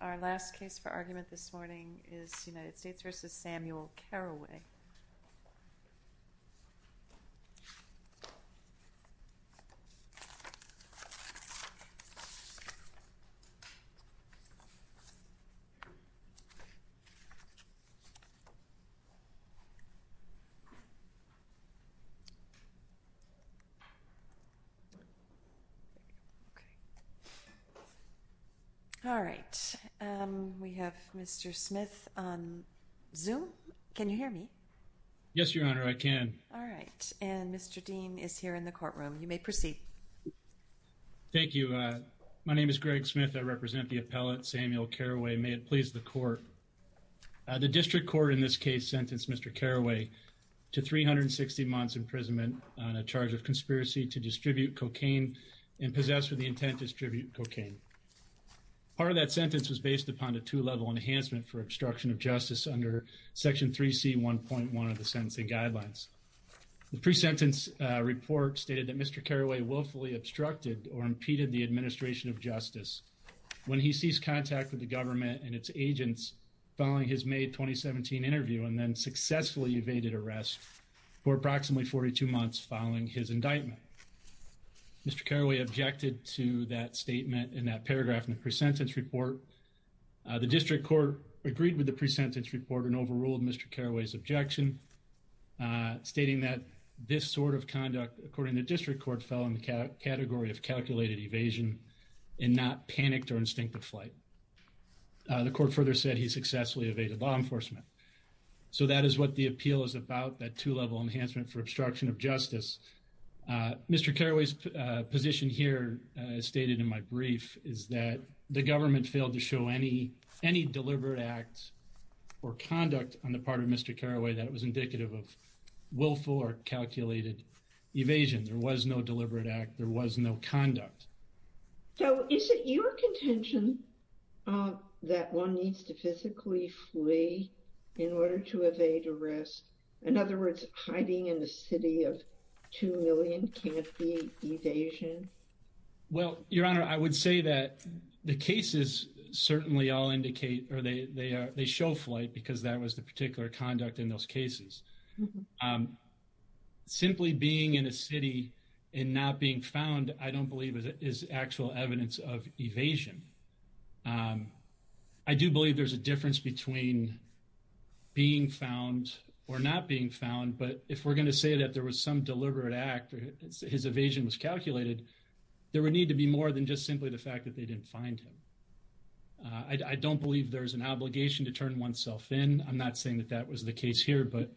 Our last case for argument this morning is United States v. Samuel Caraway. The District Court in this case sentenced Mr. Caraway to 360 months imprisonment on a charge of conspiracy to distribute cocaine and possess with the intent to distribute cocaine. Part of that sentence was based upon a two-level enhancement for obstruction of justice under Section 3C1.1 of the Sentencing Guidelines. The pre-sentence report stated that Mr. Caraway willfully obstructed or impeded the administration of justice when he ceased contact with the government and its agents following his May 2017 interview and then successfully evaded arrest for approximately 42 months following his indictment. Mr. Caraway objected to that statement in that paragraph in the pre-sentence report. The District Court agreed with the pre-sentence report and overruled Mr. Caraway's objection, stating that this sort of conduct, according to the District Court, fell in the category of calculated evasion and not panicked or instinctive flight. The Court further said he successfully evaded law enforcement. So that is what the appeal is about, that two-level enhancement for obstruction of justice. Mr. Caraway's position here, as stated in my brief, is that the government failed to show any deliberate act or conduct on the part of Mr. Caraway that was indicative of willful or calculated evasion. There was no deliberate act. There was no conduct. So is it your contention that one needs to physically flee in order to evade arrest? In other words, hiding in a city of two million can't be evasion? Well, Your Honor, I would say that the cases certainly all indicate or they show flight because that was the particular conduct in those cases. Simply being in a city and not being found, I don't believe is actual evidence of evasion. I do believe there's a difference between being found or not being found. But if we're going to say that there was some deliberate act or his evasion was calculated, there would need to be more than just simply the fact that they didn't find him. I don't believe there's an obligation to turn oneself in. I'm not saying that that was the case here, but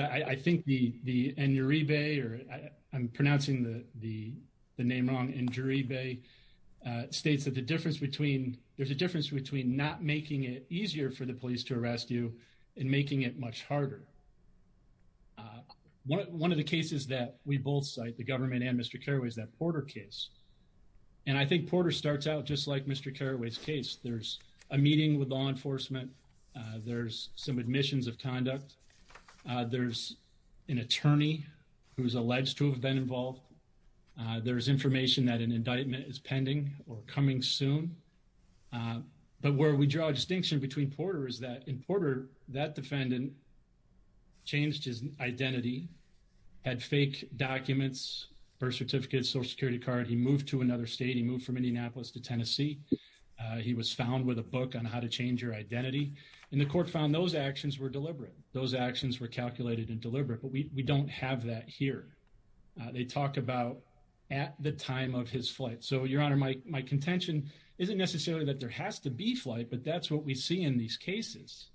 I think the Enjurebe, or I'm pronouncing the name wrong, Enjurebe, states that there's a difference between not making it easier for the police to arrest you and making it much harder. One of the cases that we both cite, the government and Mr. Caraway, is that Porter case. And I think Porter starts out just like Mr. Caraway's case. There's a meeting with law enforcement. There's some admissions of conduct. There's an attorney who's alleged to have been involved. There's information that an indictment is pending or coming soon. But where we draw a distinction between Porter is that in Porter, that defendant changed his identity, had fake documents, birth certificate, Social Security card. He moved to another state. He moved from Indianapolis to Tennessee. He was found with a book on how to change your identity. And the court found those actions were deliberate. Those actions were calculated and deliberate. But we don't have that here. They talk about at the time of his flight. So, Your Honor, my contention isn't necessarily that there has to be flight, but that's what we see in these cases.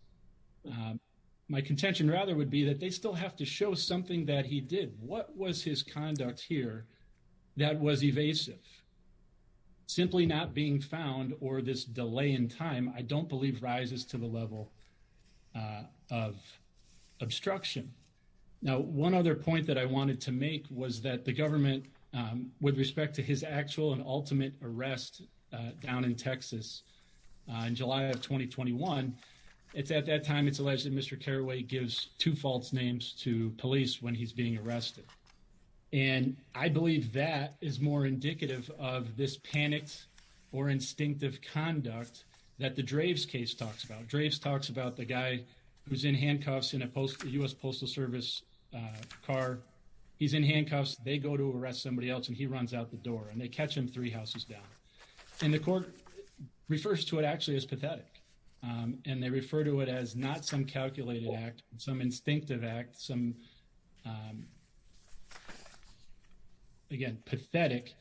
My contention, rather, would be that they still have to show something that he did. What was his conduct here that was evasive? Simply not being found or this delay in time, I don't believe, rises to the level of obstruction. Now, one other point that I wanted to make was that the government, with respect to his actual and ultimate arrest down in Texas in July of 2021, at that time, it's alleged that Mr. Caraway gives two false names to police when he's being arrested. And I believe that is more indicative of this panic or instinctive conduct that the Draves case talks about. Draves talks about the guy who's in handcuffs in a U.S. Postal Service car. He's in handcuffs. They go to arrest somebody else, and he runs out the door, and they catch him three houses down. And the court refers to it, actually, as pathetic. And they refer to it as not some calculated act, some instinctive act, some, again, pathetic,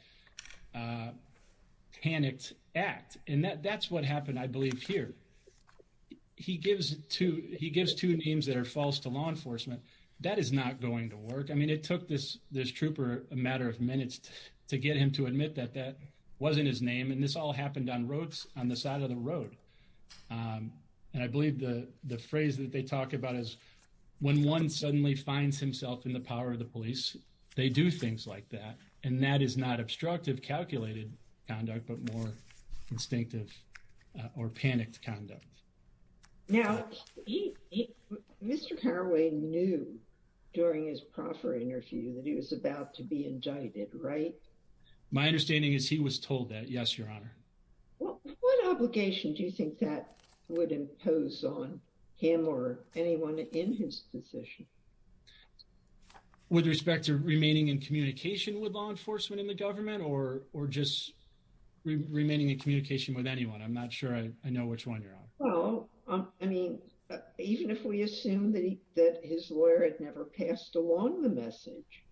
panicked act. And that's what happened, I believe, here. He gives two names that are false to law enforcement. That is not going to work. I mean, it took this trooper a matter of minutes to get him to admit that that wasn't his name. And this all happened on the side of the road. And I believe the phrase that they talk about is, when one suddenly finds himself in the power of the police, they do things like that. And that is not obstructive, calculated conduct, but more instinctive or panicked conduct. Now, Mr. Caraway knew during his proffer interview that he was about to be indicted, right? My understanding is he was told that, yes, Your Honor. What obligation do you think that would impose on him or anyone in his position? With respect to remaining in communication with law enforcement in the government or just remaining in communication with anyone? I'm not sure I know which one, Your Honor. Well, I mean, even if we assume that his lawyer had never passed along the message,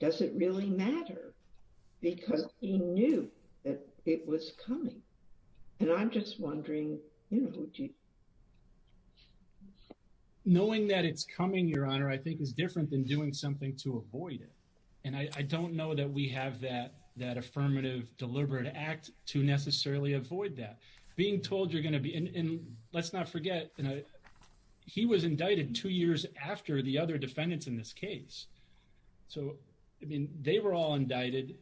does it really matter? Because he knew that it was coming. And I'm just wondering, you know. Knowing that it's coming, Your Honor, I think is different than doing something to avoid it. And I don't know that we have that affirmative deliberate act to necessarily avoid that. Being told you're going to be, and let's not forget, he was indicted two years after the other defendants in this case. So, I mean, they were all indicted.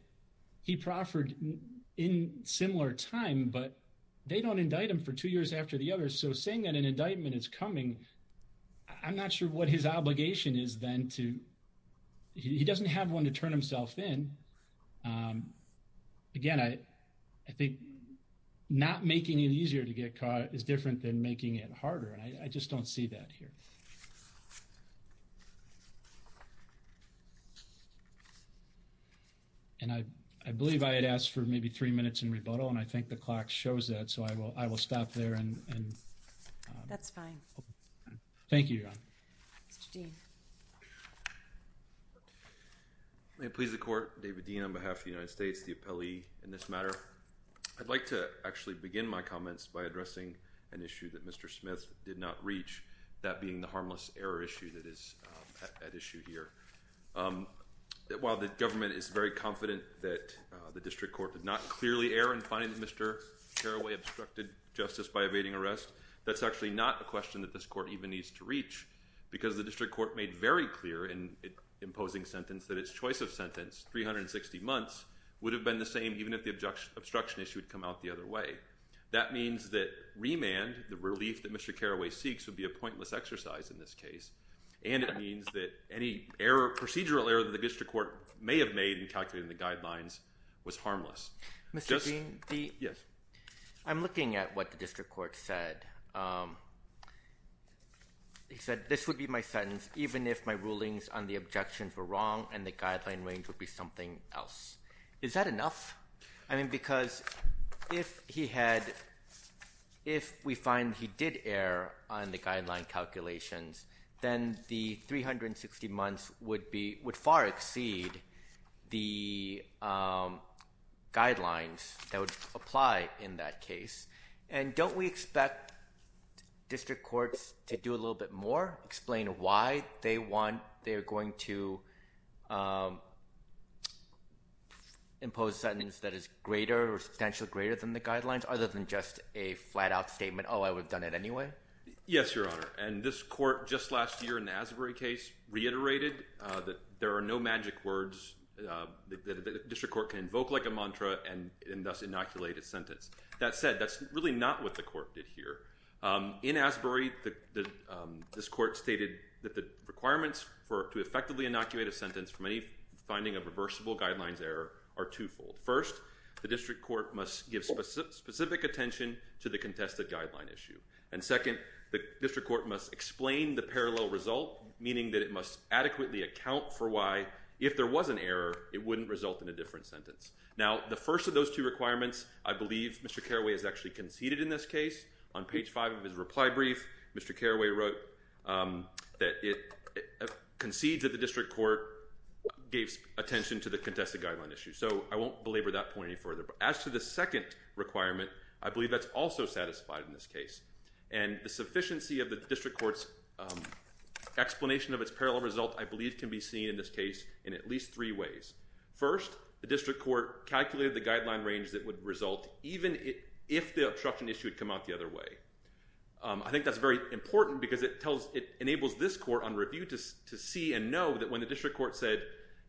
He proffered in similar time, but they don't indict him for two years after the others. So saying that an indictment is coming, I'm not sure what his obligation is then to, he doesn't have one to turn himself in. Again, I think not making it easier to get caught is different than making it harder, and I just don't see that here. And I believe I had asked for maybe three minutes in rebuttal, and I think the clock shows that, so I will stop there. That's fine. Thank you, Your Honor. Mr. Dean. May it please the court, David Dean on behalf of the United States, the appellee in this matter. I'd like to actually begin my comments by addressing an issue that Mr. Smith did not reach, that being the harmless error issue that is at issue here. While the government is very confident that the district court did not clearly err in finding that Mr. Carraway obstructed justice by evading arrest, that's actually not a question that this court even needs to reach, because the district court made very clear in imposing sentence that its choice of sentence, 360 months, would have been the same even if the obstruction issue had come out the other way. That means that remand, the relief that Mr. Carraway seeks, would be a pointless exercise in this case, and it means that any procedural error that the district court may have made in calculating the guidelines was harmless. Mr. Dean. Yes. I'm looking at what the district court said. He said, this would be my sentence even if my rulings on the objections were wrong and the guideline range would be something else. Is that enough? I mean, because if he had, if we find he did err on the guideline calculations, then the 360 months would be, would far exceed the guidelines that would apply in that case. And don't we expect district courts to do a little bit more? Explain why they want, they are going to impose sentence that is greater or substantially greater than the guidelines, other than just a flat-out statement, oh, I would have done it anyway? Yes, Your Honor, and this court just last year in the Asbury case reiterated that there are no magic words that the district court can invoke like a mantra and thus inoculate a sentence. That said, that's really not what the court did here. In Asbury, this court stated that the requirements to effectively inoculate a sentence from any finding of reversible guidelines error are twofold. First, the district court must give specific attention to the contested guideline issue. And second, the district court must explain the parallel result, meaning that it must adequately account for why, if there was an error, it wouldn't result in a different sentence. Now, the first of those two requirements, I believe Mr. Caraway has actually conceded in this case. On page five of his reply brief, Mr. Caraway wrote that it concedes that the district court gave attention to the contested guideline issue. So I won't belabor that point any further. But as to the second requirement, I believe that's also satisfied in this case. And the sufficiency of the district court's explanation of its parallel result, I believe, can be seen in this case in at least three ways. First, the district court calculated the guideline range that would result even if the obstruction issue had come out the other way. I think that's very important because it enables this court on review to see and know that when the district court said,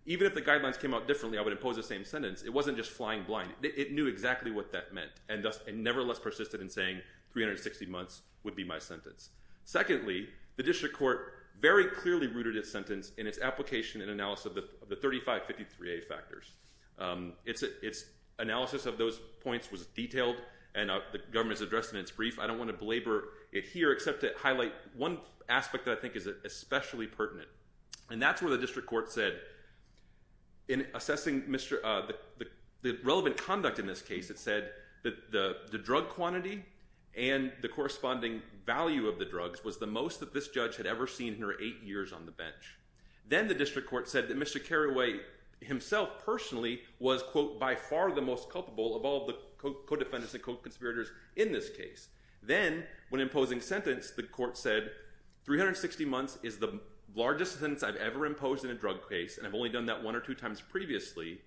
even if the guidelines came out differently, I would impose the same sentence, it wasn't just flying blind. It knew exactly what that meant and nevertheless persisted in saying 360 months would be my sentence. Secondly, the district court very clearly rooted its sentence in its application and analysis of the 3553A factors. Its analysis of those points was detailed and the government has addressed in its brief. I don't want to belabor it here except to highlight one aspect that I think is especially pertinent. And that's where the district court said in assessing the relevant conduct in this case, it said that the drug quantity and the corresponding value of the drugs was the most that this judge had ever seen in her eight years on the bench. Then the district court said that Mr. Carraway himself personally was, quote, by far the most culpable of all the co-defendants and co-conspirators in this case. Then when imposing sentence, the court said 360 months is the largest sentence I've ever imposed in a drug case and I've only done that one or two times previously.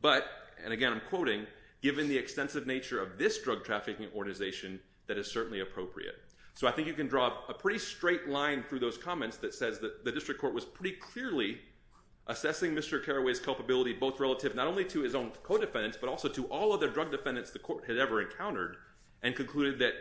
But, and again I'm quoting, given the extensive nature of this drug trafficking organization, that is certainly appropriate. So I think you can draw a pretty straight line through those comments that says the district court was pretty clearly assessing Mr. Carraway's culpability both relative not only to his own co-defendants but also to all other drug defendants the court had ever encountered and concluded that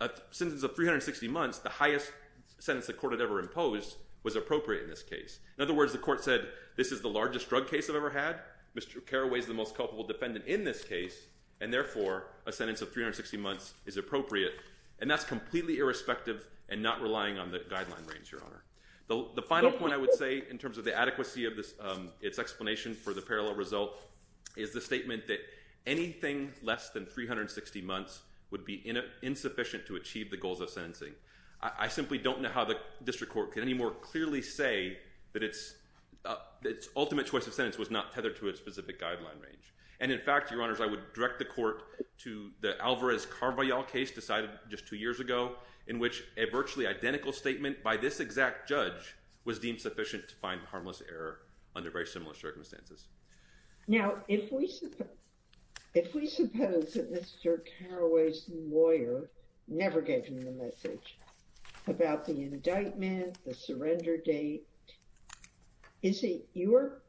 a sentence of 360 months, the highest sentence the court had ever imposed, was appropriate in this case. In other words, the court said this is the largest drug case I've ever had. Mr. Carraway is the most culpable defendant in this case and therefore a sentence of 360 months is appropriate and that's completely irrespective and not relying on the guideline range, Your Honor. The final point I would say in terms of the adequacy of its explanation for the parallel result is the statement that anything less than 360 months would be insufficient to achieve the goals of sentencing. I simply don't know how the district court can any more clearly say that its ultimate choice of sentence was not tethered to a specific guideline range. And in fact, Your Honors, I would direct the court to the Alvarez-Carvajal case decided just two years ago in which a virtually identical statement by this exact judge was deemed sufficient to find harmless error under very similar circumstances. Now, if we suppose that Mr. Carraway's lawyer never gave him the message about the indictment, the surrender date, is it your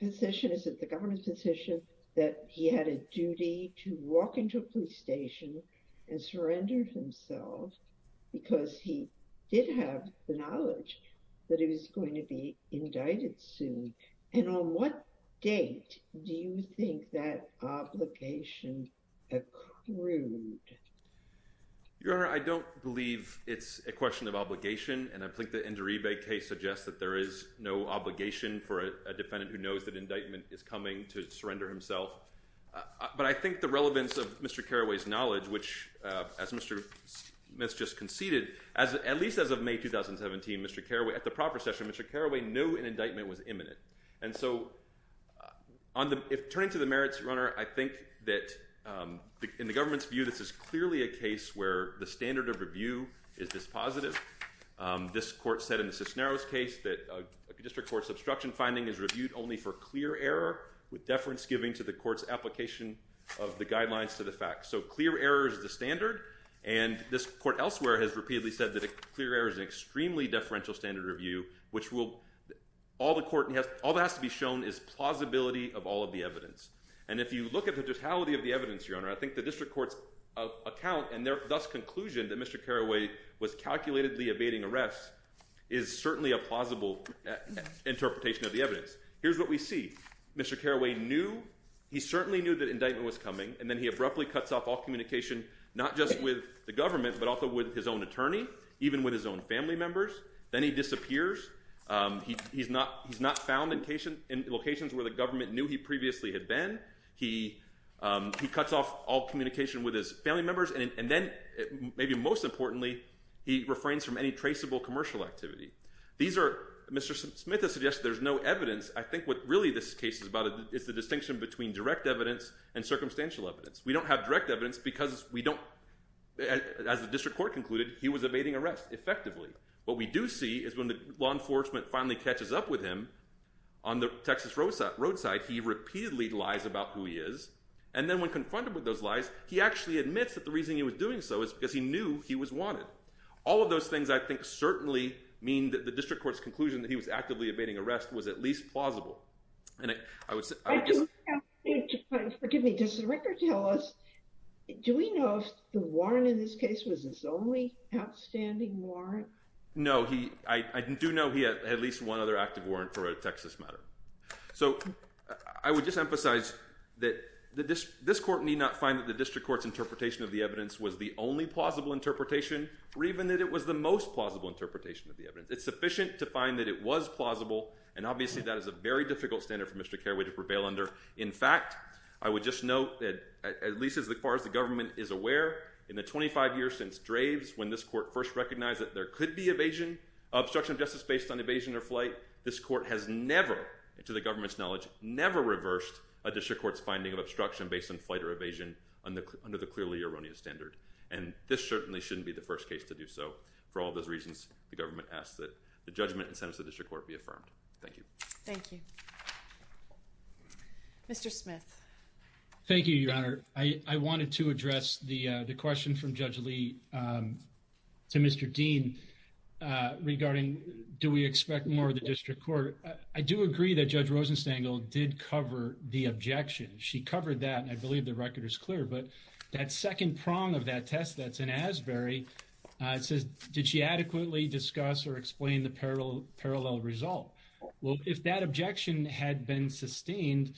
position, is it the government's position, that he had a duty to walk into a police station and surrender himself because he did have the knowledge that he was going to be indicted soon? And on what date do you think that obligation accrued? Your Honor, I don't believe it's a question of obligation. And I think the Nduribe case suggests that there is no obligation for a defendant who knows that indictment is coming to surrender himself. But I think the relevance of Mr. Carraway's knowledge, which as Mr. Smith just conceded, at least as of May 2017, Mr. Carraway, at the proper session, Mr. Carraway knew an indictment was imminent. And so turning to the merits, Your Honor, I think that in the government's view, this is clearly a case where the standard of review is this positive. This court said in the Cisneros case that a district court's obstruction finding is reviewed only for clear error with deference giving to the court's application of the guidelines to the facts. So clear error is the standard. And this court elsewhere has repeatedly said that a clear error is an extremely deferential standard review, which will—all the court—all that has to be shown is plausibility of all of the evidence. And if you look at the totality of the evidence, Your Honor, I think the district court's account and their thus conclusion that Mr. Carraway was calculatedly evading arrest is certainly a plausible interpretation of the evidence. Here's what we see. Mr. Carraway knew—he certainly knew that an indictment was coming, and then he abruptly cuts off all communication not just with the government, but also with his own attorney, even with his own family members. Then he disappears. He's not found in locations where the government knew he previously had been. He cuts off all communication with his family members. And then, maybe most importantly, he refrains from any traceable commercial activity. These are—Mr. Smith has suggested there's no evidence. I think what really this case is about is the distinction between direct evidence and circumstantial evidence. We don't have direct evidence because we don't—as the district court concluded, he was evading arrest effectively. What we do see is when the law enforcement finally catches up with him on the Texas roadside, he repeatedly lies about who he is, and then when confronted with those lies, he actually admits that the reason he was doing so is because he knew he was wanted. All of those things, I think, certainly mean that the district court's conclusion that he was actively evading arrest was at least plausible. And I would just— I think—forgive me. Does the record tell us—do we know if the warrant in this case was his only outstanding warrant? No. I do know he had at least one other active warrant for a Texas matter. So I would just emphasize that this court need not find that the district court's interpretation of the evidence was the only plausible interpretation or even that it was the most plausible interpretation of the evidence. It's sufficient to find that it was plausible, and obviously that is a very difficult standard for Mr. Carraway to prevail under. In fact, I would just note that at least as far as the government is aware, in the 25 years since Draves, when this court first recognized that there could be evasion, obstruction of justice based on evasion or flight, this court has never, to the government's knowledge, never reversed a district court's finding of obstruction based on flight or evasion under the clearly erroneous standard. And this certainly shouldn't be the first case to do so. For all those reasons, the government asks that the judgment and sentence of the district court be affirmed. Thank you. Thank you. Mr. Smith. Thank you, Your Honor. I wanted to address the question from Judge Lee to Mr. Dean regarding do we expect more of the district court. I do agree that Judge Rosenstangel did cover the objection. She covered that, and I believe the record is clear. But that second prong of that test that's in Asbury, it says, did she adequately discuss or explain the parallel result? Well, if that objection had been sustained,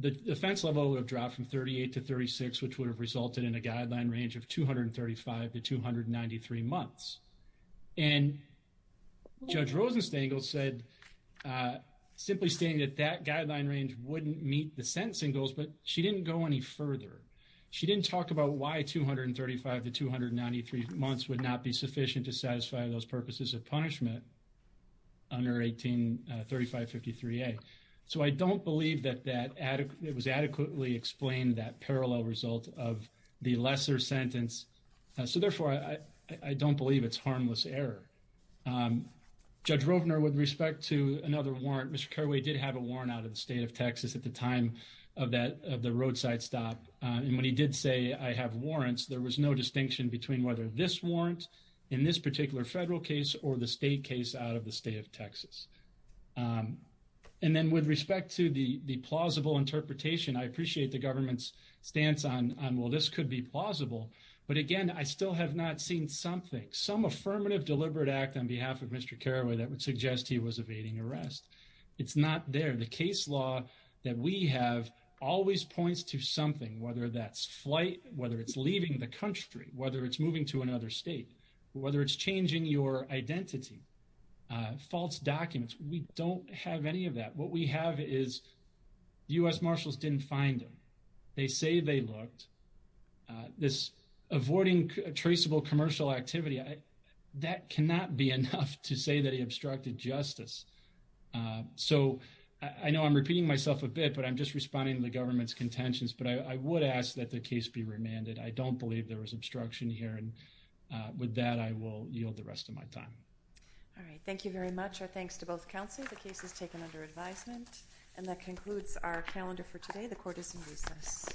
the defense level would have dropped from 38 to 36, which would have resulted in a guideline range of 235 to 293 months. And Judge Rosenstangel said, simply stating that that guideline range wouldn't meet the sentencing goals, but she didn't go any further. She didn't talk about why 235 to 293 months would not be sufficient to satisfy those purposes of punishment under 183553A. So I don't believe that it was adequately explained, that parallel result of the lesser sentence. So, therefore, I don't believe it's harmless error. Judge Rovner, with respect to another warrant, Mr. Carraway did have a warrant out of the state of Texas at the time of the roadside stop. And when he did say, I have warrants, there was no distinction between whether this warrant in this particular federal case or the state case out of the state of Texas. And then with respect to the plausible interpretation, I appreciate the government's stance on, well, this could be plausible. But again, I still have not seen something, some affirmative deliberate act on behalf of Mr. Carraway that would suggest he was evading arrest. It's not there. The case law that we have always points to something, whether that's flight, whether it's leaving the country, whether it's moving to another state, whether it's changing your identity, false documents. We don't have any of that. What we have is U.S. Marshals didn't find him. They say they looked. This avoiding traceable commercial activity, that cannot be enough to say that he obstructed justice. So I know I'm repeating myself a bit, but I'm just responding to the government's contentions. But I would ask that the case be remanded. I don't believe there was obstruction here. And with that, I will yield the rest of my time. All right. Thank you very much. Our thanks to both counsel. The case is taken under advisement. And that concludes our calendar for today. The court is in recess.